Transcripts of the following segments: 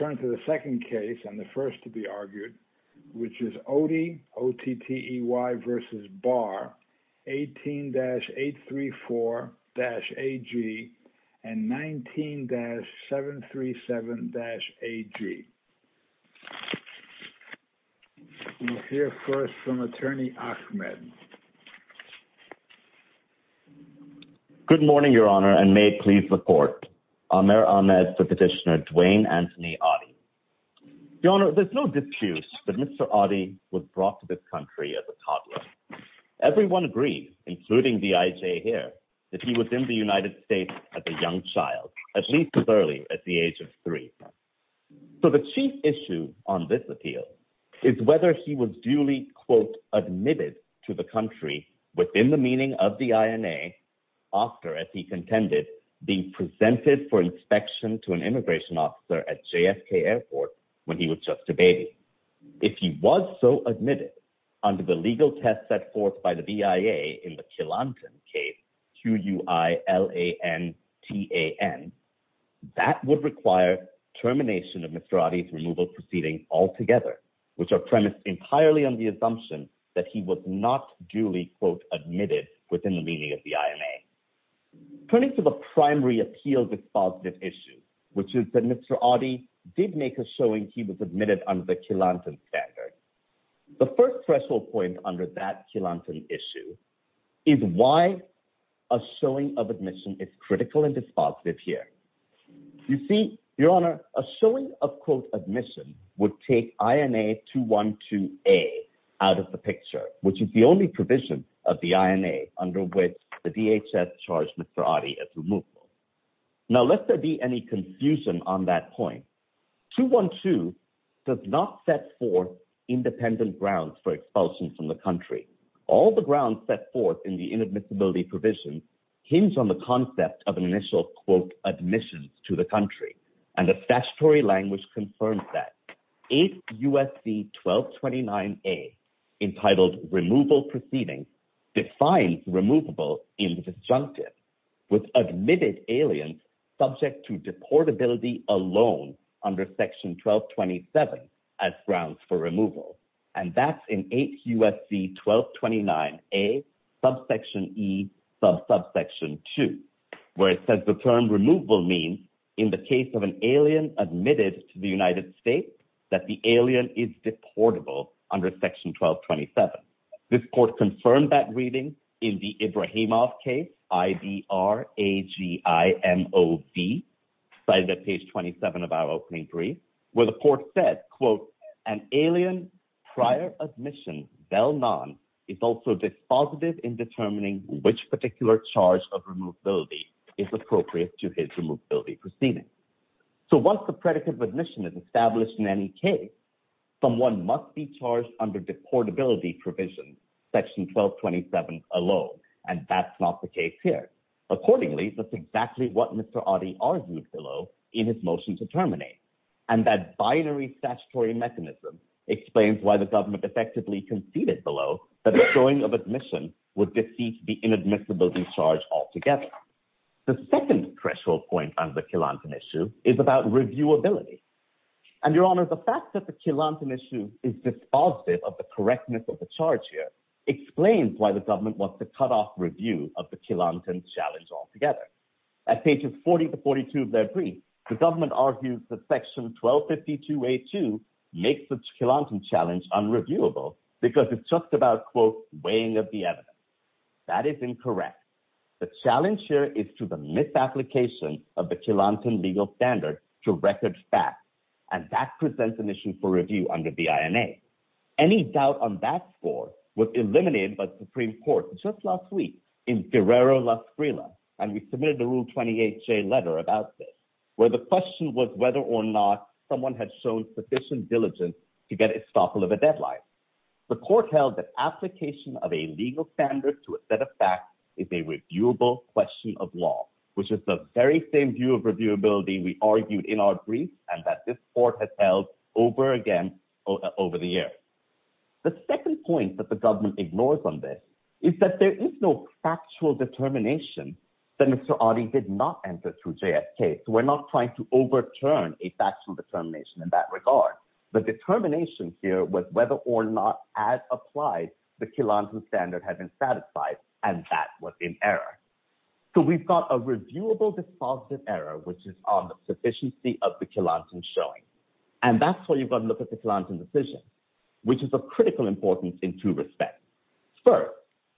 18-834-AG and 19-737-AG. We'll hear first from Attorney Ahmed. Good morning, Your Honor, and may it please the Court. Amer Ahmed to Petitioner Dwayne Anthony Ottey. Your Honor, there's no dispute that Mr. Ottey was brought to this country as a toddler. Everyone agrees, including the IJ here, that he was in the United States as a young child, at least as early as the age of three. So the chief issue on this appeal is whether he was duly, quote, admitted to the country within the meaning of the INA after, as he contended, being presented for inspection to an immigration officer at JFK Airport when he was just a baby. If he was so admitted under the legal test set forth by the BIA in the Killanton case, Q-U-I-L-A-N-T-A-N, that would require termination of Mr. Ottey's proceedings altogether, which are premised entirely on the assumption that he was not duly, quote, admitted within the meaning of the INA. Turning to the primary appeal dispositive issue, which is that Mr. Ottey did make a showing he was admitted under the Killanton standard. The first threshold point under that Killanton issue is why a showing of admission is critical and dispositive here. You see, Your Honor, a showing of, quote, admission would take INA 212A out of the picture, which is the only provision of the INA under which the DHS charged Mr. Ottey as removable. Now, lest there be any confusion on that point, 212 does not set forth independent grounds for expulsion from the country. All the grounds set forth in the admissions to the country, and the statutory language confirms that. 8 U.S.C. 1229A, entitled Removal Proceedings, defines removable in the disjunctive, with admitted aliens subject to deportability alone under Section 1227 as grounds for removal. And that's in 8 U.S.C. 1229A, subsection E, subsection 2, where it says the term removal means, in the case of an alien admitted to the United States, that the alien is deportable under Section 1227. This court confirmed that reading in the Ibrahimov case, I-B-R-A-G-I-M-O-V, cited at page 27 of our opening where the court said, quote, an alien prior admission, well known, is also dispositive in determining which particular charge of removability is appropriate to his removability proceedings. So once the predicate of admission is established in any case, someone must be charged under deportability provision, Section 1227 alone, and that's not the case here. Accordingly, that's exactly what Mr. Adi argued below in his motion to terminate, and that binary statutory mechanism explains why the government effectively conceded below that a showing of admission would defeat the inadmissibility charge altogether. The second threshold point on the Killanton issue is about reviewability. And, Your Honor, the fact that the Killanton issue is dispositive of the correctness of the charge here explains why the government wants to cut off review of the Killanton challenge altogether. At pages 40 to 42 of their brief, the government argues that Section 1252A2 makes the Killanton challenge unreviewable because it's just about, quote, weighing of the evidence. That is incorrect. The challenge here is to the misapplication of the Killanton legal standard to record facts, and that presents an issue for review under the INA. Any doubt on that score was eliminated by Supreme Court just last week in Guerrero, Las Grillas, and we submitted the Rule 28J letter about this, where the question was whether or not someone had shown sufficient diligence to get estoppel of a deadline. The court held that application of a legal standard to a set of facts is a reviewable question of law, which is the very same view of reviewability we argued in our brief and that this court has held over again over the years. The second point that the government ignores on this is that there is no factual determination that Mr. Adi did not enter through JSK, so we're not trying to overturn a factual determination in that regard. The determination here was whether or not, as applied, the Killanton standard had been satisfied, and that was in error. So we've got a reviewable defaulted error, which is on the sufficiency of the Killanton showing, and that's why you've got to look at the Killanton decision, which is of critical importance in two respects. First,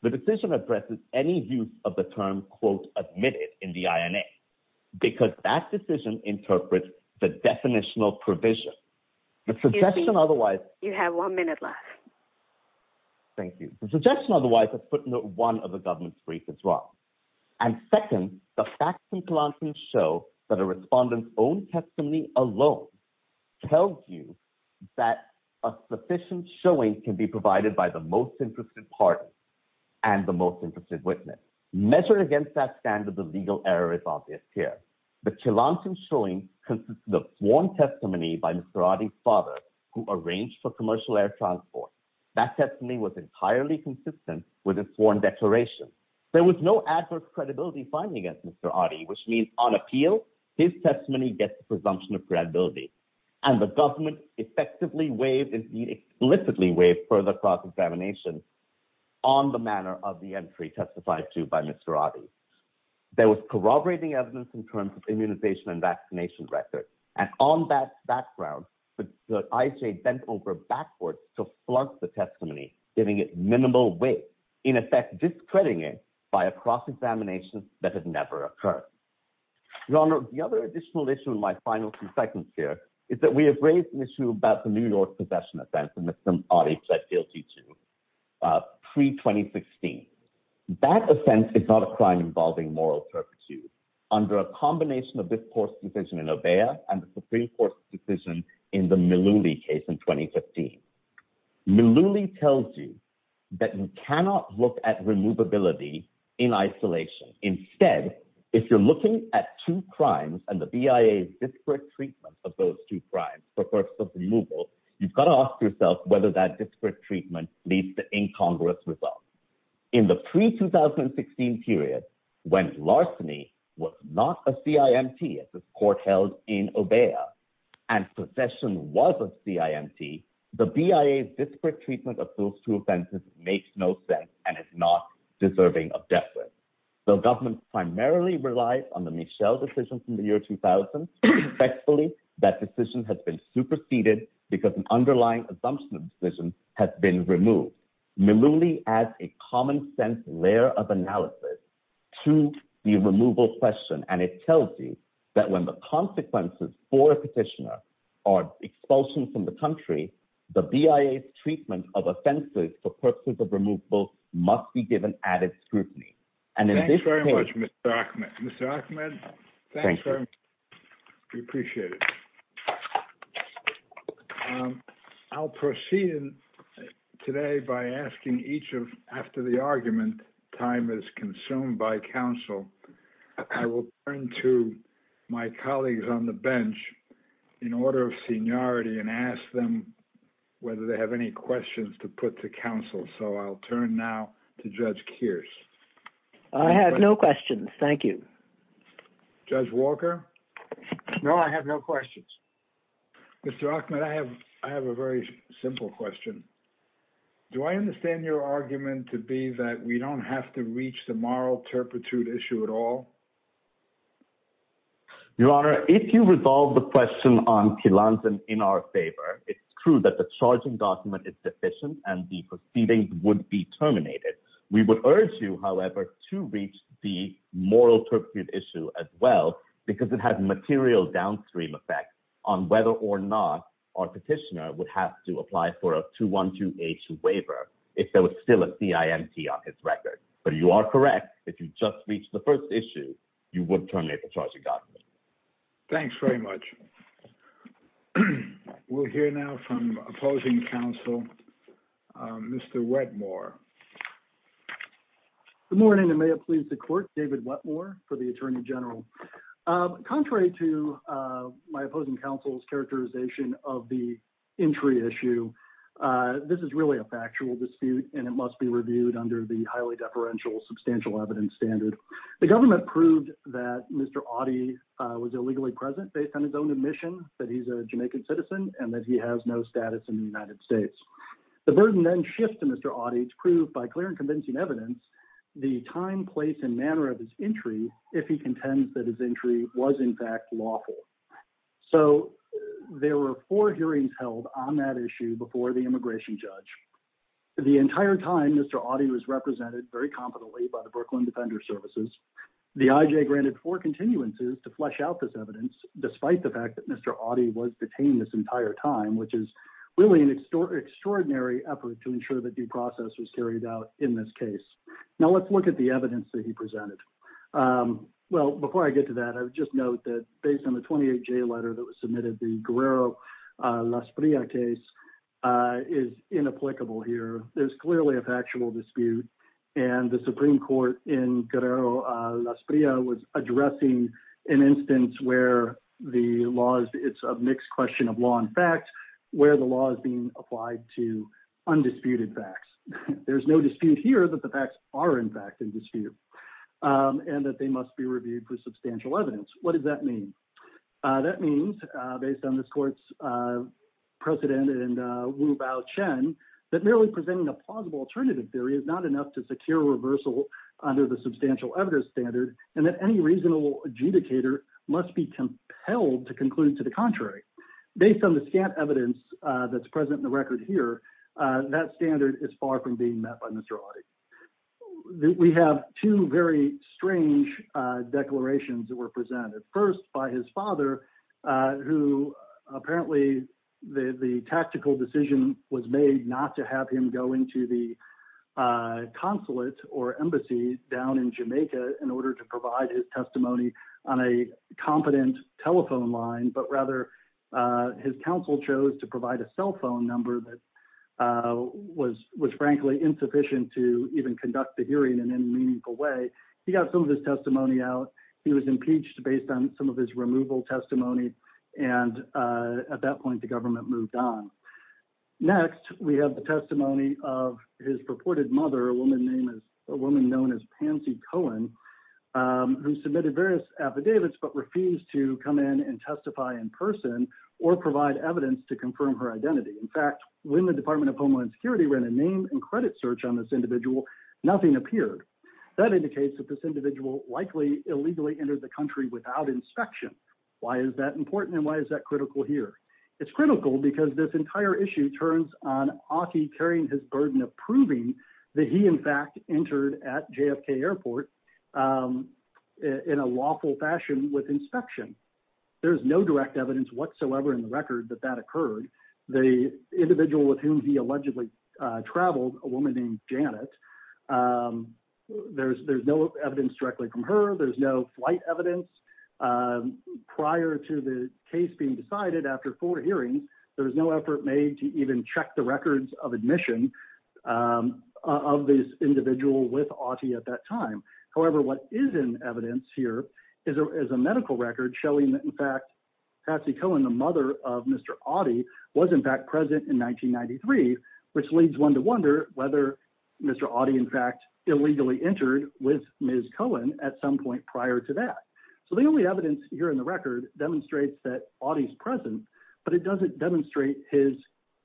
the decision addresses any use of the term, quote, admitted in the INA, because that decision interprets the definitional provision. You have one minute left. Thank you. The suggestion otherwise is put in one of the government's briefs as well. And second, the facts in Killanton show that a respondent's own testimony alone tells you that a sufficient showing can be provided by the most interested party and the most interested witness. Measured against that standard, the legal error is obvious here. The Killanton showing consists of sworn testimony by Mr. Adi's father, who arranged for commercial air transport. That testimony was entirely consistent with his sworn declaration. There was no adverse credibility finding against Mr. Adi, which means on appeal, his testimony gets presumption of credibility. And the government effectively waived, and he explicitly waived further cross-examination on the manner of the entry testified to by Mr. Adi. There was corroborating evidence in terms of immunization and vaccination records, and on that background, the IHA bent over backwards to flunk the testimony, giving it minimal weight, in effect discrediting it by a cross-examination that had never occurred. Your Honor, the other additional issue in my final few seconds here is that we have raised an issue about the New York Possession Offense that Mr. Adi pled guilty to pre-2016. That offense is not a crime involving moral perpetuity. Under a combination of this Court's decision in Obeah and the Supreme Court's decision in the Mullooly case in 2015, Mullooly tells you that you cannot look at removability in isolation. Instead, if you're looking at two crimes and the BIA's disparate treatment of those two crimes for purposes of removal, you've got to ask yourself whether that disparate treatment leads to incongruous results. In the pre-2016 period, when larceny was not a CIMT, as this Court held in Obeah, and possession was a CIMT, the BIA's disparate treatment of those two offenses makes no sense and is not deserving of death sentence. The government primarily relies on the Michel decision from the year 2000. Effectively, that decision has been superseded because an underlying assumption of the decision has been removed. Mullooly adds a common-sense layer of analysis to the removal question, and it tells you that when the consequences for a petitioner are expulsion from the country, the BIA's treatment of offenses for purposes of removal must be given added scrutiny. Thanks very much, Mr. Achmed. We appreciate it. I'll proceed today by asking each of, after the argument, time is consumed by counsel, I will turn to my colleagues on the bench in order of seniority and ask them whether they have any questions to put to counsel. I'll turn now to Judge Kearse. I have no questions. Thank you. Judge Walker? No, I have no questions. Mr. Achmed, I have a very simple question. Do I understand your argument to be that we don't have to reach the moral turpitude issue at all? Your Honor, if you resolve the question on Tlantzan in our favor, it's true that the charging document is deficient and the proceedings would be terminated. We would urge you, however, to reach the moral turpitude issue as well because it has material downstream effects on whether or not our petitioner would have to apply for a 212H waiver if there was still a charge. You are correct. If you just reach the first issue, you would terminate the charging document. Thanks very much. We'll hear now from opposing counsel, Mr. Wetmore. Good morning and may it please the Court, David Wetmore for the Attorney General. Contrary to my opposing counsel's characterization of the entry issue, this is really a factual dispute and it must be reviewed under the highly deferential substantial evidence standard. The government proved that Mr. Awdy was illegally present based on his own admission that he's a Jamaican citizen and that he has no status in the United States. The burden then shifts to Mr. Awdy to prove by clear and convincing evidence the time, place, and manner of his entry if he contends that his entry was in fact lawful. So, there were four hearings held on that issue before the immigration judge. The entire time, Mr. Awdy was represented very confidently by the Brooklyn Defender Services. The IJ granted four continuances to flesh out this evidence despite the fact that Mr. Awdy was detained this entire time, which is really an extraordinary effort to ensure that due process was carried out in this case. Now, let's look at the evidence that he presented. Well, before I get to that, I would just note that based on the 28J letter that was submitted, the Guerrero-Lasprilla case is inapplicable here. There's clearly a factual dispute and the Supreme Court in Guerrero-Lasprilla was addressing an instance where the law is, it's a mixed question of law and fact, where the law is being applied to undisputed facts. There's no dispute here that the facts are in fact in dispute and that they must be reviewed for substantial evidence. What does that mean? That means, based on this court's precedent and Wu-Bao Chen, that merely presenting a plausible alternative theory is not enough to secure reversal under the substantial evidence standard and that any reasonable adjudicator must be compelled to conclude to the contrary. Based on the scant evidence that's present in the record here, that standard is far from being met by Mr. Otte. We have two very strange declarations that were presented. First, by his father, who apparently the tactical decision was made not to have him go into the consulate or embassy down in Jamaica in order to provide his testimony on a competent telephone line, but rather his counsel chose to provide a cell phone number that was frankly insufficient to even conduct the hearing in any meaningful way. He got some of his testimony out. He was impeached based on some of his removal testimony and at that point the government moved on. Next, we have the testimony of his purported mother, a woman known as Pansy Cohen, who submitted various affidavits but refused to come in and testify in person or provide evidence to confirm her identity. In fact, when the Department of Homeland Security ran a name and credit search on this individual, nothing appeared. That indicates that this individual likely illegally entered the country without inspection. Why is that important and why is that critical here? It's critical because this entire issue turns on Otte carrying his burden of proving that he in fact entered at JFK Airport in a lawful fashion with inspection. There's no direct evidence whatsoever in the record that that occurred. The individual with whom he allegedly traveled, a woman named Janet, there's no evidence directly from her. There's no flight evidence. Prior to the case being decided after four hearings, there was no effort made to check the records of admission of this individual with Otte at that time. However, what is in evidence here is a medical record showing that in fact Pansy Cohen, the mother of Mr. Otte, was in fact present in 1993, which leads one to wonder whether Mr. Otte in fact illegally entered with Ms. Cohen at some point prior to that. So the only evidence here in the record demonstrates that Otte is present, but it doesn't demonstrate his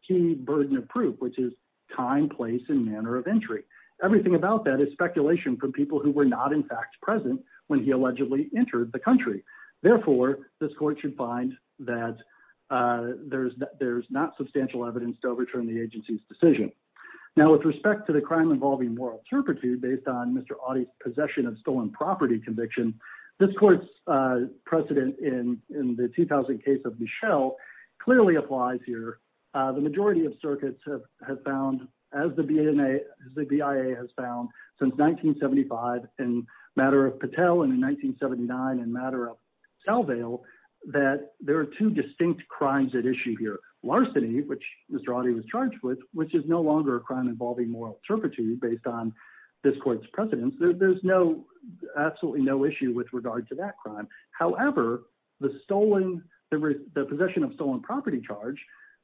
key burden of proof, which is time, place, and manner of entry. Everything about that is speculation from people who were not in fact present when he allegedly entered the country. Therefore, this court should find that there's not substantial evidence to overturn the agency's decision. Now with respect to the crime involving moral turpitude based on Mr. Otte's possession of stolen property conviction, this court's precedent in the 2000 case of Michelle clearly applies here. The majority of circuits have found, as the BIA has found since 1975 in Matter of Patel and in 1979 in Matter of Salveil, that there are two distinct crimes at issue here. Larceny, which Mr. Otte was charged with, which is no longer a crime involving moral turpitude based on this court's precedence. There's absolutely no issue with regard to that crime. However, the possession of stolen property charge,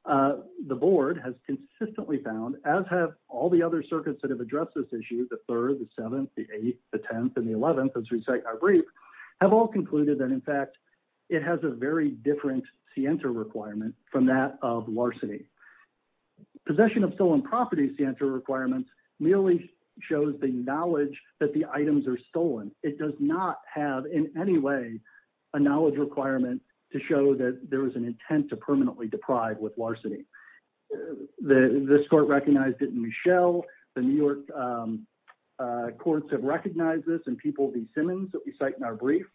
the board has consistently found, as have all the other circuits that have addressed this issue, the 3rd, the 7th, the 8th, the 10th, and the 11th, as we cite our brief, have all concluded that in fact it has a very different scienter requirement from that of larceny. Possession of stolen property scienter requirements merely shows the knowledge that the items are stolen. It does not have in any way a knowledge requirement to show that there is an intent to permanently deprive with larceny. This court recognized it in Michelle. The New York courts have recognized this in People v. Simmons that we cite in our brief.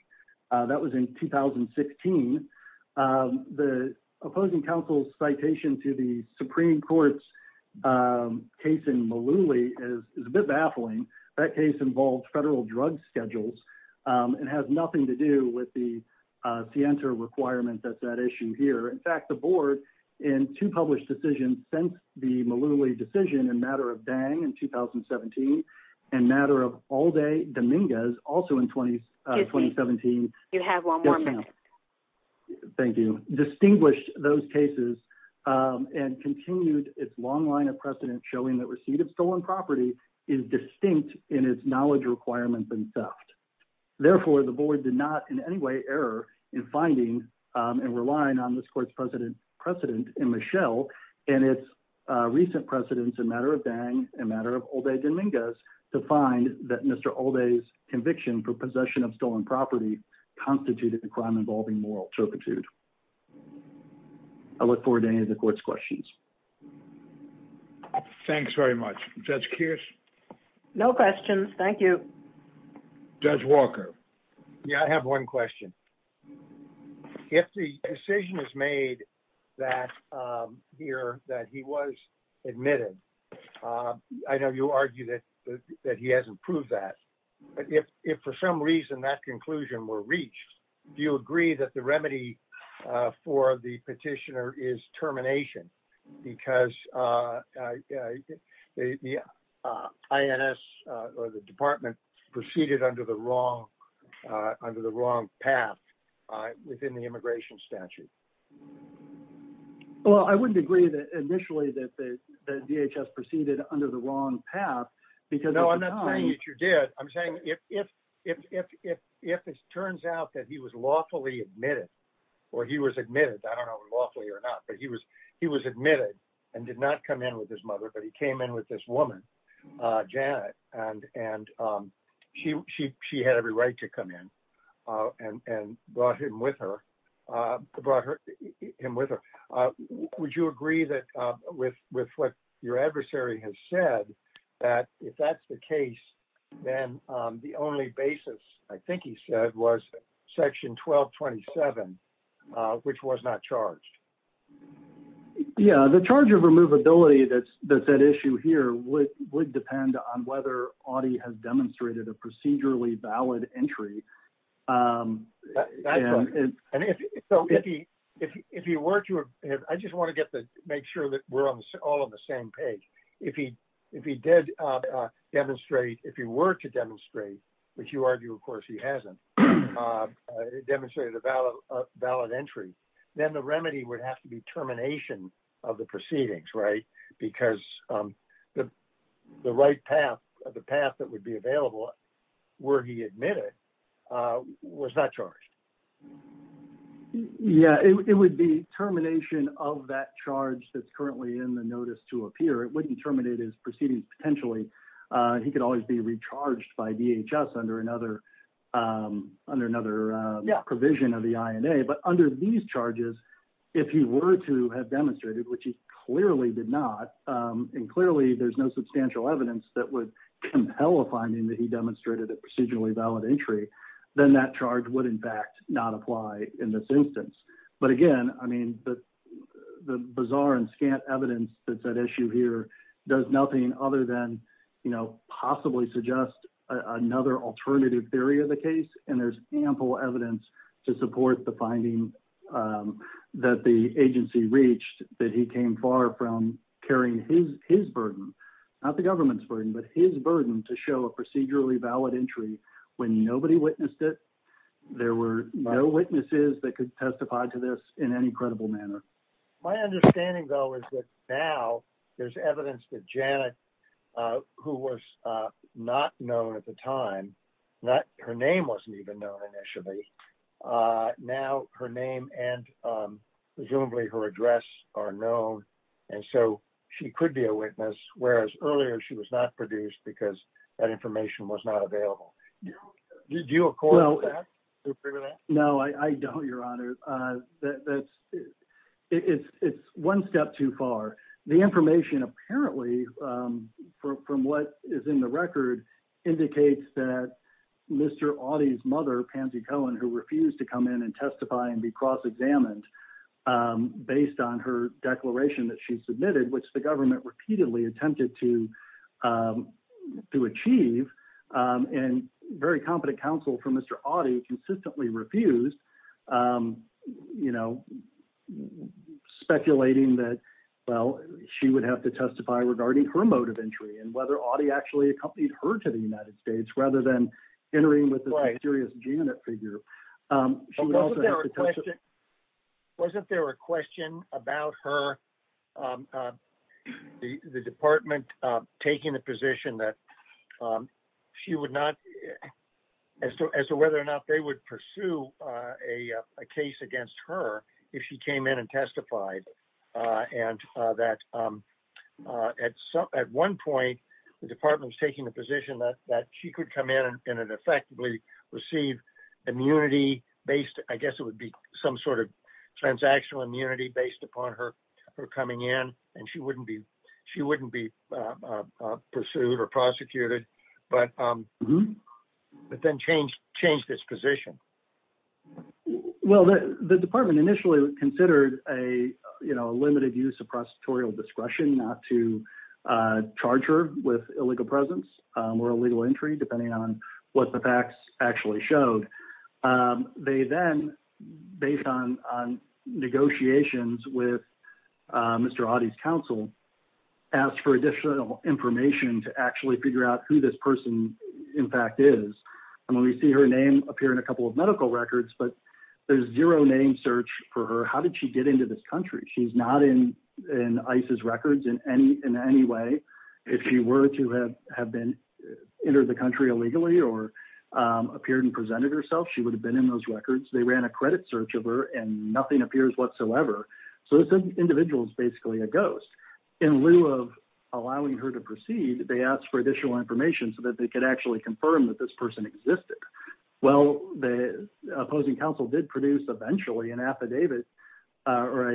That was in 2016. The opposing counsel's citation to the Supreme Court's case in Malouli is a bit baffling. That case involved federal drug schedules and has nothing to do with the scienter requirement that's at issue here. In fact, the board in two published decisions since the Malouli decision in matter of Dang in 2017 and matter of Alde Dominguez, also in 2017. You have one more minute. Thank you. Distinguished those cases and continued its long line of precedent showing that receipt of stolen property is distinct in its knowledge requirements and theft. Therefore, the board did not in any way error in finding and relying on this court's precedent in Michelle and its recent precedents in matter of Dang and matter of Alde Dominguez to find that Mr. Alde's conviction for possession of stolen property constituted a crime involving moral turpitude. I look forward to any of the court's questions. Thanks very much. Judge Kearse? No questions. Thank you. Judge Walker? Yeah, I have one question. If the decision is made that here that he was admitted, I know you argue that he hasn't that. If for some reason that conclusion were reached, do you agree that the remedy for the petitioner is termination? Because the INS or the department proceeded under the wrong path within the immigration statute? Well, I wouldn't agree that initially that DHS proceeded under the wrong path. No, I'm not saying that you did. I'm saying if it turns out that he was lawfully admitted, or he was admitted, I don't know lawfully or not, but he was admitted and did not come in with his mother, but he came in with this woman, Janet, and she had every right to come in and brought him with her. Would you agree with what your adversary has said that if that's the case, then the only basis I think he said was section 1227, which was not charged? Yeah, the charge of removability that's at issue here would depend on whether he has demonstrated a procedurally valid entry. I just want to make sure that we're all on the same page. If he did demonstrate, if he were to demonstrate, which you argue of course he hasn't, demonstrated a valid entry, then the remedy would have to be termination of the proceedings, right? Because the right path, the path that would be available were he admitted was not charged. Yeah, it would be termination of that charge that's currently in the notice to appear. It wouldn't terminate his proceedings potentially. He could always be recharged by DHS under another provision of the INA, but under these charges, if he were to have demonstrated, which he clearly did not, and clearly there's no substantial evidence that would compel a finding that he demonstrated a procedurally valid entry, then that charge would in fact not apply in this instance. But again, I mean, the bizarre and scant evidence that's at issue here does nothing other than possibly suggest another alternative theory of the case, and there's ample evidence to support the finding that the agency reached that he came far from carrying his burden, not the government's burden, but his burden to show a procedurally valid entry when nobody witnessed it. There were no witnesses that could testify to this in any credible manner. My understanding though is that now there's evidence that Janet, who was not known at the time, her name wasn't even known initially, now her name and presumably her address are known, and so she could be a witness, whereas earlier she was not produced because that information was not available. Did you agree with that? No, I don't, Your Honor. It's one step too far. The information apparently from what is in the record indicates that Mr. Audie's mother, Pansy Cohen, who refused to come in and testify and be cross-examined based on her declaration that she submitted, which the government repeatedly attempted to achieve, and very competent counsel for Mr. Audie consistently refused, speculating that she would have to testify regarding her motive entry and whether Audie actually accompanied her to the United States rather than entering with a mysterious Janet figure. Wasn't there a question about her, the department taking the position that she would not, as to whether or not they would pursue a case against her if she came in and testified, and that at one point the department was taking the position that she could come in and effectively receive immunity based, I guess it would be some sort of transactional immunity based upon her coming in, and she wouldn't be pursued or prosecuted, but then change this position? Well, the department initially considered a limited use of prosecutorial discretion not to charge her with illegal presence or illegal entry depending on what the facts actually showed. They then, based on negotiations with Mr. Audie's counsel, asked for additional information to actually figure out who this person in fact is, and when we see her name appear in a couple of medical records, but there's zero name search for her. How did she get into this country? She's not in ICE's records in any way. If she were to have entered the country illegally or appeared and presented herself, she would have been in those records. They ran a credit search of her and nothing appears whatsoever, so this individual is basically a ghost. In lieu of allowing her to proceed, they asked for additional information so that they could actually confirm that this person existed. Well, the opposing counsel did produce eventually an affidavit or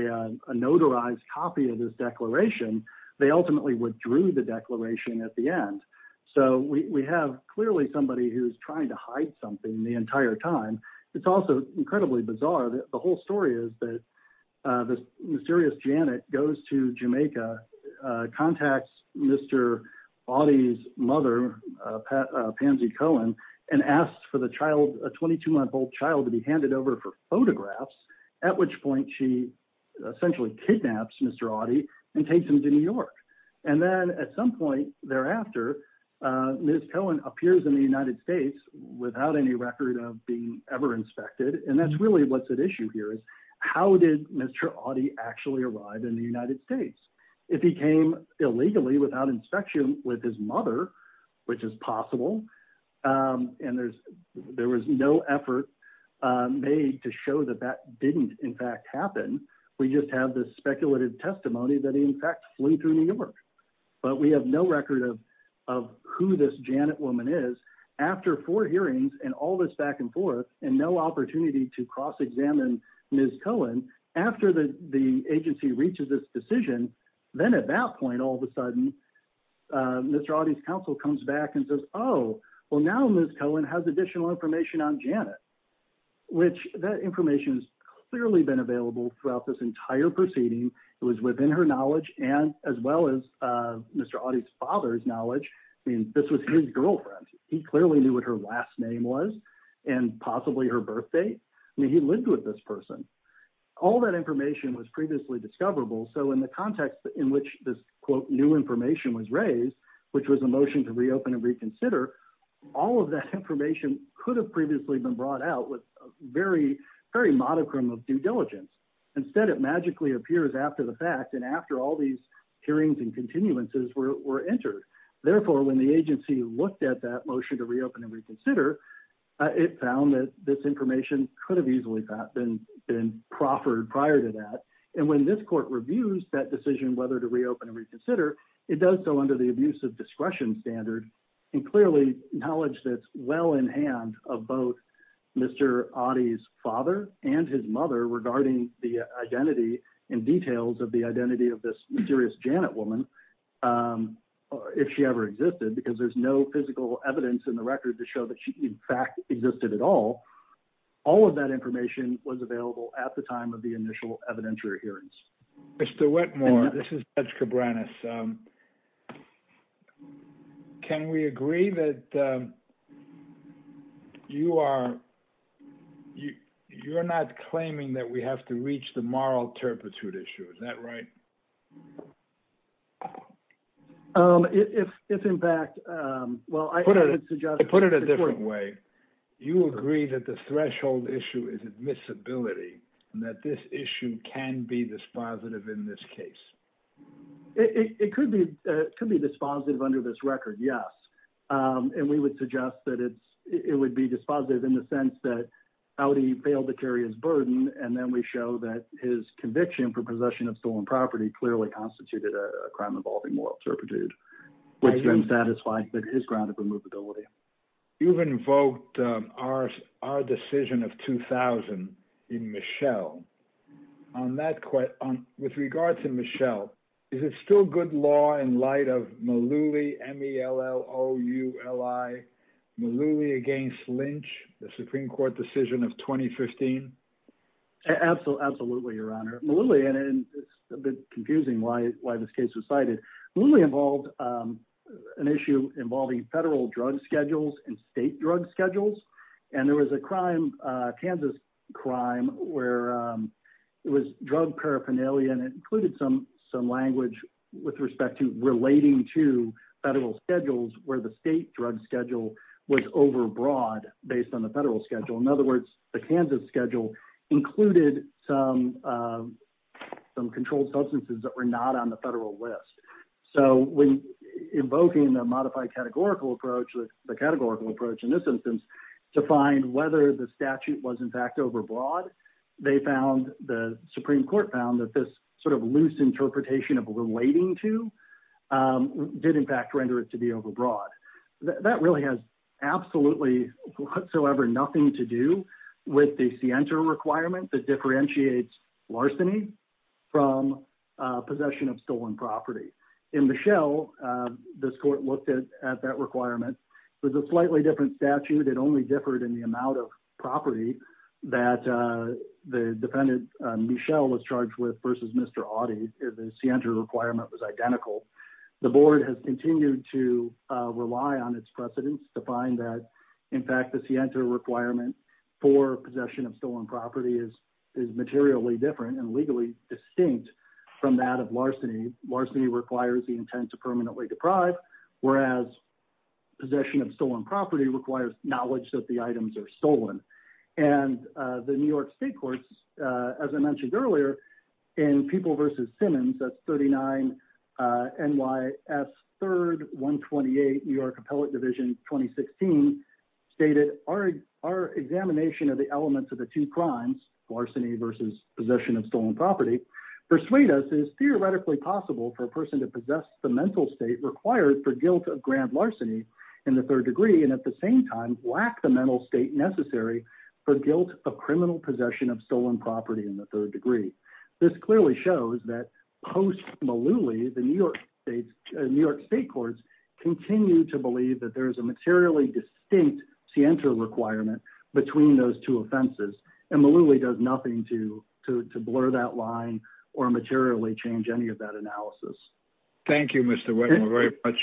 a notarized copy of this declaration. They ultimately withdrew the declaration at the end, so we have clearly somebody who's trying to hide something the entire time. It's also incredibly bizarre. The whole story is that this mysterious Janet goes to Jamaica, contacts Mr. Audie's mother, Pansy Cohen, and asks for a 22-month-old child to be handed over for photographs, at which point she essentially kidnaps Mr. Audie and takes him to New York, and then at some point thereafter, Ms. Cohen appears in the United States without any record of being ever inspected, and that's really what's at issue here is how did Mr. Audie actually arrive in the United States? If he came illegally without inspection with his mother, which is possible, and there was no effort made to show that that didn't in fact happen, we just have this but we have no record of who this Janet woman is. After four hearings and all this back and forth and no opportunity to cross-examine Ms. Cohen, after the agency reaches this decision, then at that point, all of a sudden, Mr. Audie's counsel comes back and says, oh, well, now Ms. Cohen has additional information on Janet, which that information has clearly been available throughout this entire proceeding. It was within her knowledge and as well as Mr. Audie's father's knowledge. I mean, this was his girlfriend. He clearly knew what her last name was and possibly her birth date. I mean, he lived with this person. All that information was previously discoverable, so in the context in which this quote new information was raised, which was a motion to reopen and reconsider, all of that information could have previously been brought out with a very, very monochrome of due diligence. Instead, it magically appears after the fact and after all these hearings and continuances were entered. Therefore, when the agency looked at that motion to reopen and reconsider, it found that this information could have easily been proffered prior to that, and when this court reviews that decision whether to reopen and reconsider, it does so under the abuse of discretion standard and clearly knowledge that's well in hand of both Mr. Audie's father and his mother regarding the identity and details of the identity of this mysterious Janet woman, if she ever existed, because there's no physical evidence in the record to show that she in fact existed at all. All of that information was available at the time of the initial evidentiary hearings. Mr. Whitmore, this is Judge Cabranes. Can we agree that you are, you're not claiming that we have to reach the moral turpitude issue, is that right? If in fact, well, I put it a different way. You agree that the threshold issue is admissibility and that this issue can be dispositive in this case. It could be dispositive under this record, yes, and we would suggest that it's, it would be dispositive in the sense that Audie failed to carry his burden and then we show that his conviction for possession of stolen property clearly constituted a crime involving moral turpitude, which then satisfied his ground of removability. You've invoked our decision of 2000 in Michelle. On that, with regards to Michelle, is it still good law in light of Malouli, M-E-L-L-O-U-L-I, Malouli against Lynch, the Supreme Court decision of 2015? Absolutely, your honor. Malouli, and it's a bit confusing why this case was cited. Malouli involved an issue involving federal drug schedules and state drug schedules. And there was a crime, a Kansas crime where it was drug paraphernalia, and it included some language with respect to relating to federal schedules where the state drug schedule was overbroad based on the federal schedule. In other words, the Kansas schedule included some controlled substances that were not on the federal list. So when invoking the modified categorical approach, the categorical approach in this instance, to find whether the statute was in fact overbroad, they found, the Supreme Court found that this sort of loose interpretation of relating to did in fact render it to be overbroad. That really has absolutely whatsoever nothing to do with the scienter requirement that differentiates larceny from possession of stolen property. In Michel, this court looked at that requirement with a slightly different statute. It only differed in the amount of property that the defendant Michel was charged with versus Mr. Audy. The scienter requirement was identical. The board has continued to rely on its precedents to find that, in fact, the scienter requirement for possession of stolen property is materially different and legally distinct from that of larceny. Larceny requires the intent to permanently deprive, whereas possession of stolen property requires knowledge that the items are stolen. And the New York state courts, as I mentioned earlier, in People versus Division 2016 stated, our examination of the elements of the two crimes, larceny versus possession of stolen property, persuade us it is theoretically possible for a person to possess the mental state required for guilt of grand larceny in the third degree and at the same time lack the mental state necessary for guilt of criminal possession of stolen property in the third degree. This clearly shows that post-Malouly, the New York state courts continue to believe that there is a materially distinct scienter requirement between those two offenses, and Malouly does nothing to blur that line or materially change any of that analysis. Thank you, Mr. Whittemore, very much.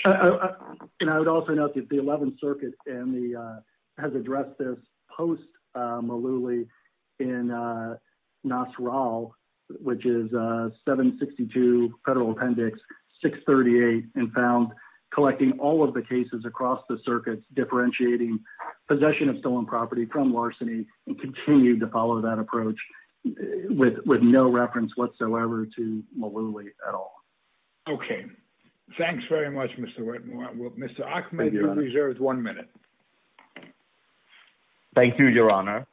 And I would also note that the 11th Circuit has addressed this post-Malouly in NASRAL, which is 762 Federal Appendix 638, and found collecting all of the cases across the circuits differentiating possession of stolen property from larceny and continue to follow that approach with no reference whatsoever to Malouly at all. Okay, thanks very much, Mr. Whittemore. Mr. Ahmed, you have one minute. Thank you, Your Honor.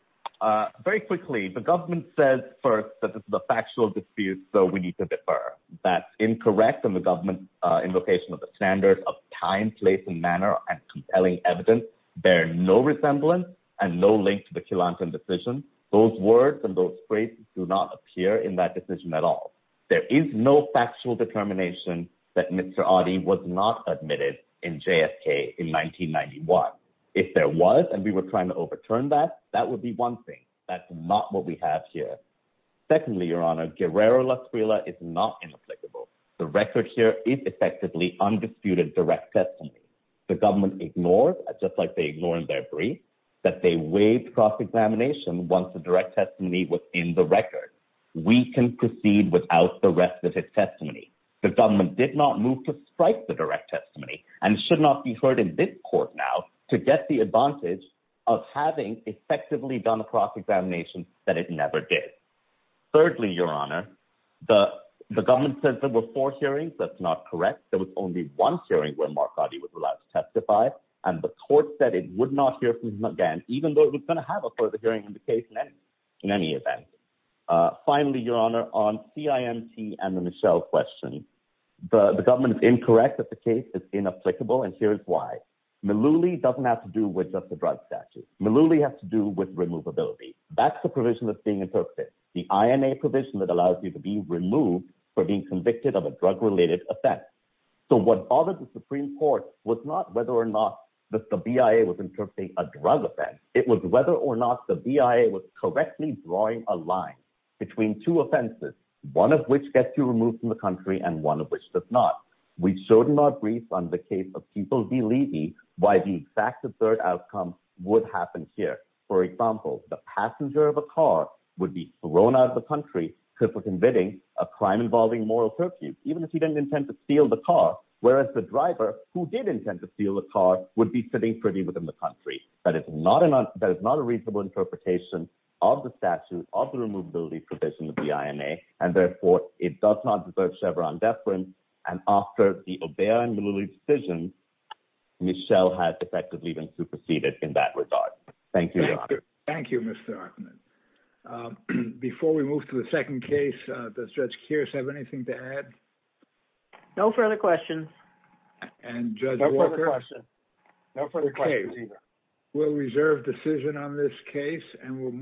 Very quickly, the government says first that this is a factual dispute, so we need to defer. That's incorrect in the government's invocation of the standards of time, place, and manner, and compelling evidence. There are no resemblance and no link to the Killanton decision. Those words and those phrases do not appear in that decision at all. There is no factual determination that Mr. Adi was not admitted in JFK in 1991. If there was, and we were trying to overturn that, that would be one thing. That's not what we have here. Secondly, Your Honor, Guerrero-Lasrilla is not inapplicable. The record here is effectively undisputed direct testimony. The government ignored, just like they ignored in their brief, that they waived cross-examination once the direct testimony was in the record. We can proceed without the rest of his testimony. The government did not move to strike the direct testimony and should not be heard in this court now to get the advantage of having effectively done a cross-examination that it never did. Thirdly, Your Honor, the government said there were four hearings. That's not correct. There was only one hearing where Mark Adi was allowed to testify, and the court said it would not hear from him again, even though it was going to have a further hearing in the case in any event. Finally, Your Honor, on CIMT and the Michelle question, the government is incorrect that the case is inapplicable, and here is why. Malouli doesn't have to do with just the drug statute. Malouli has to do with removability. That's the provision that's being interpreted, the INA provision that allows you to be removed for being convicted of a drug-related offense. So what bothered the Supreme Court was not whether or not that the BIA was interpreting a drug offense. It was whether or not the BIA was correctly drawing a line between two offenses, one of which gets you removed from the country and one of which does not. We should not brief on the case of people believing why the exact absurd outcome would happen here. For example, the passenger of a car would be thrown out of the country for convicting a crime involving moral curfew, even if he didn't intend to steal the car, whereas the driver, who did intend to steal the car, would be sitting pretty within the country. That is not a reasonable interpretation of the statute, of the removability provision of the INA, and therefore, it does not reserve Chevron deference, and after the O'Brien-Malouli decision, Michelle has effectively been superseded in that regard. Thank you, Your Honor. Thank you, Mr. Archman. Before we move to the second case, does Judge Kearse have anything to add? No further questions. And Judge Walker? No further questions. No further questions. Okay. We'll reserve decision on this case, and we'll move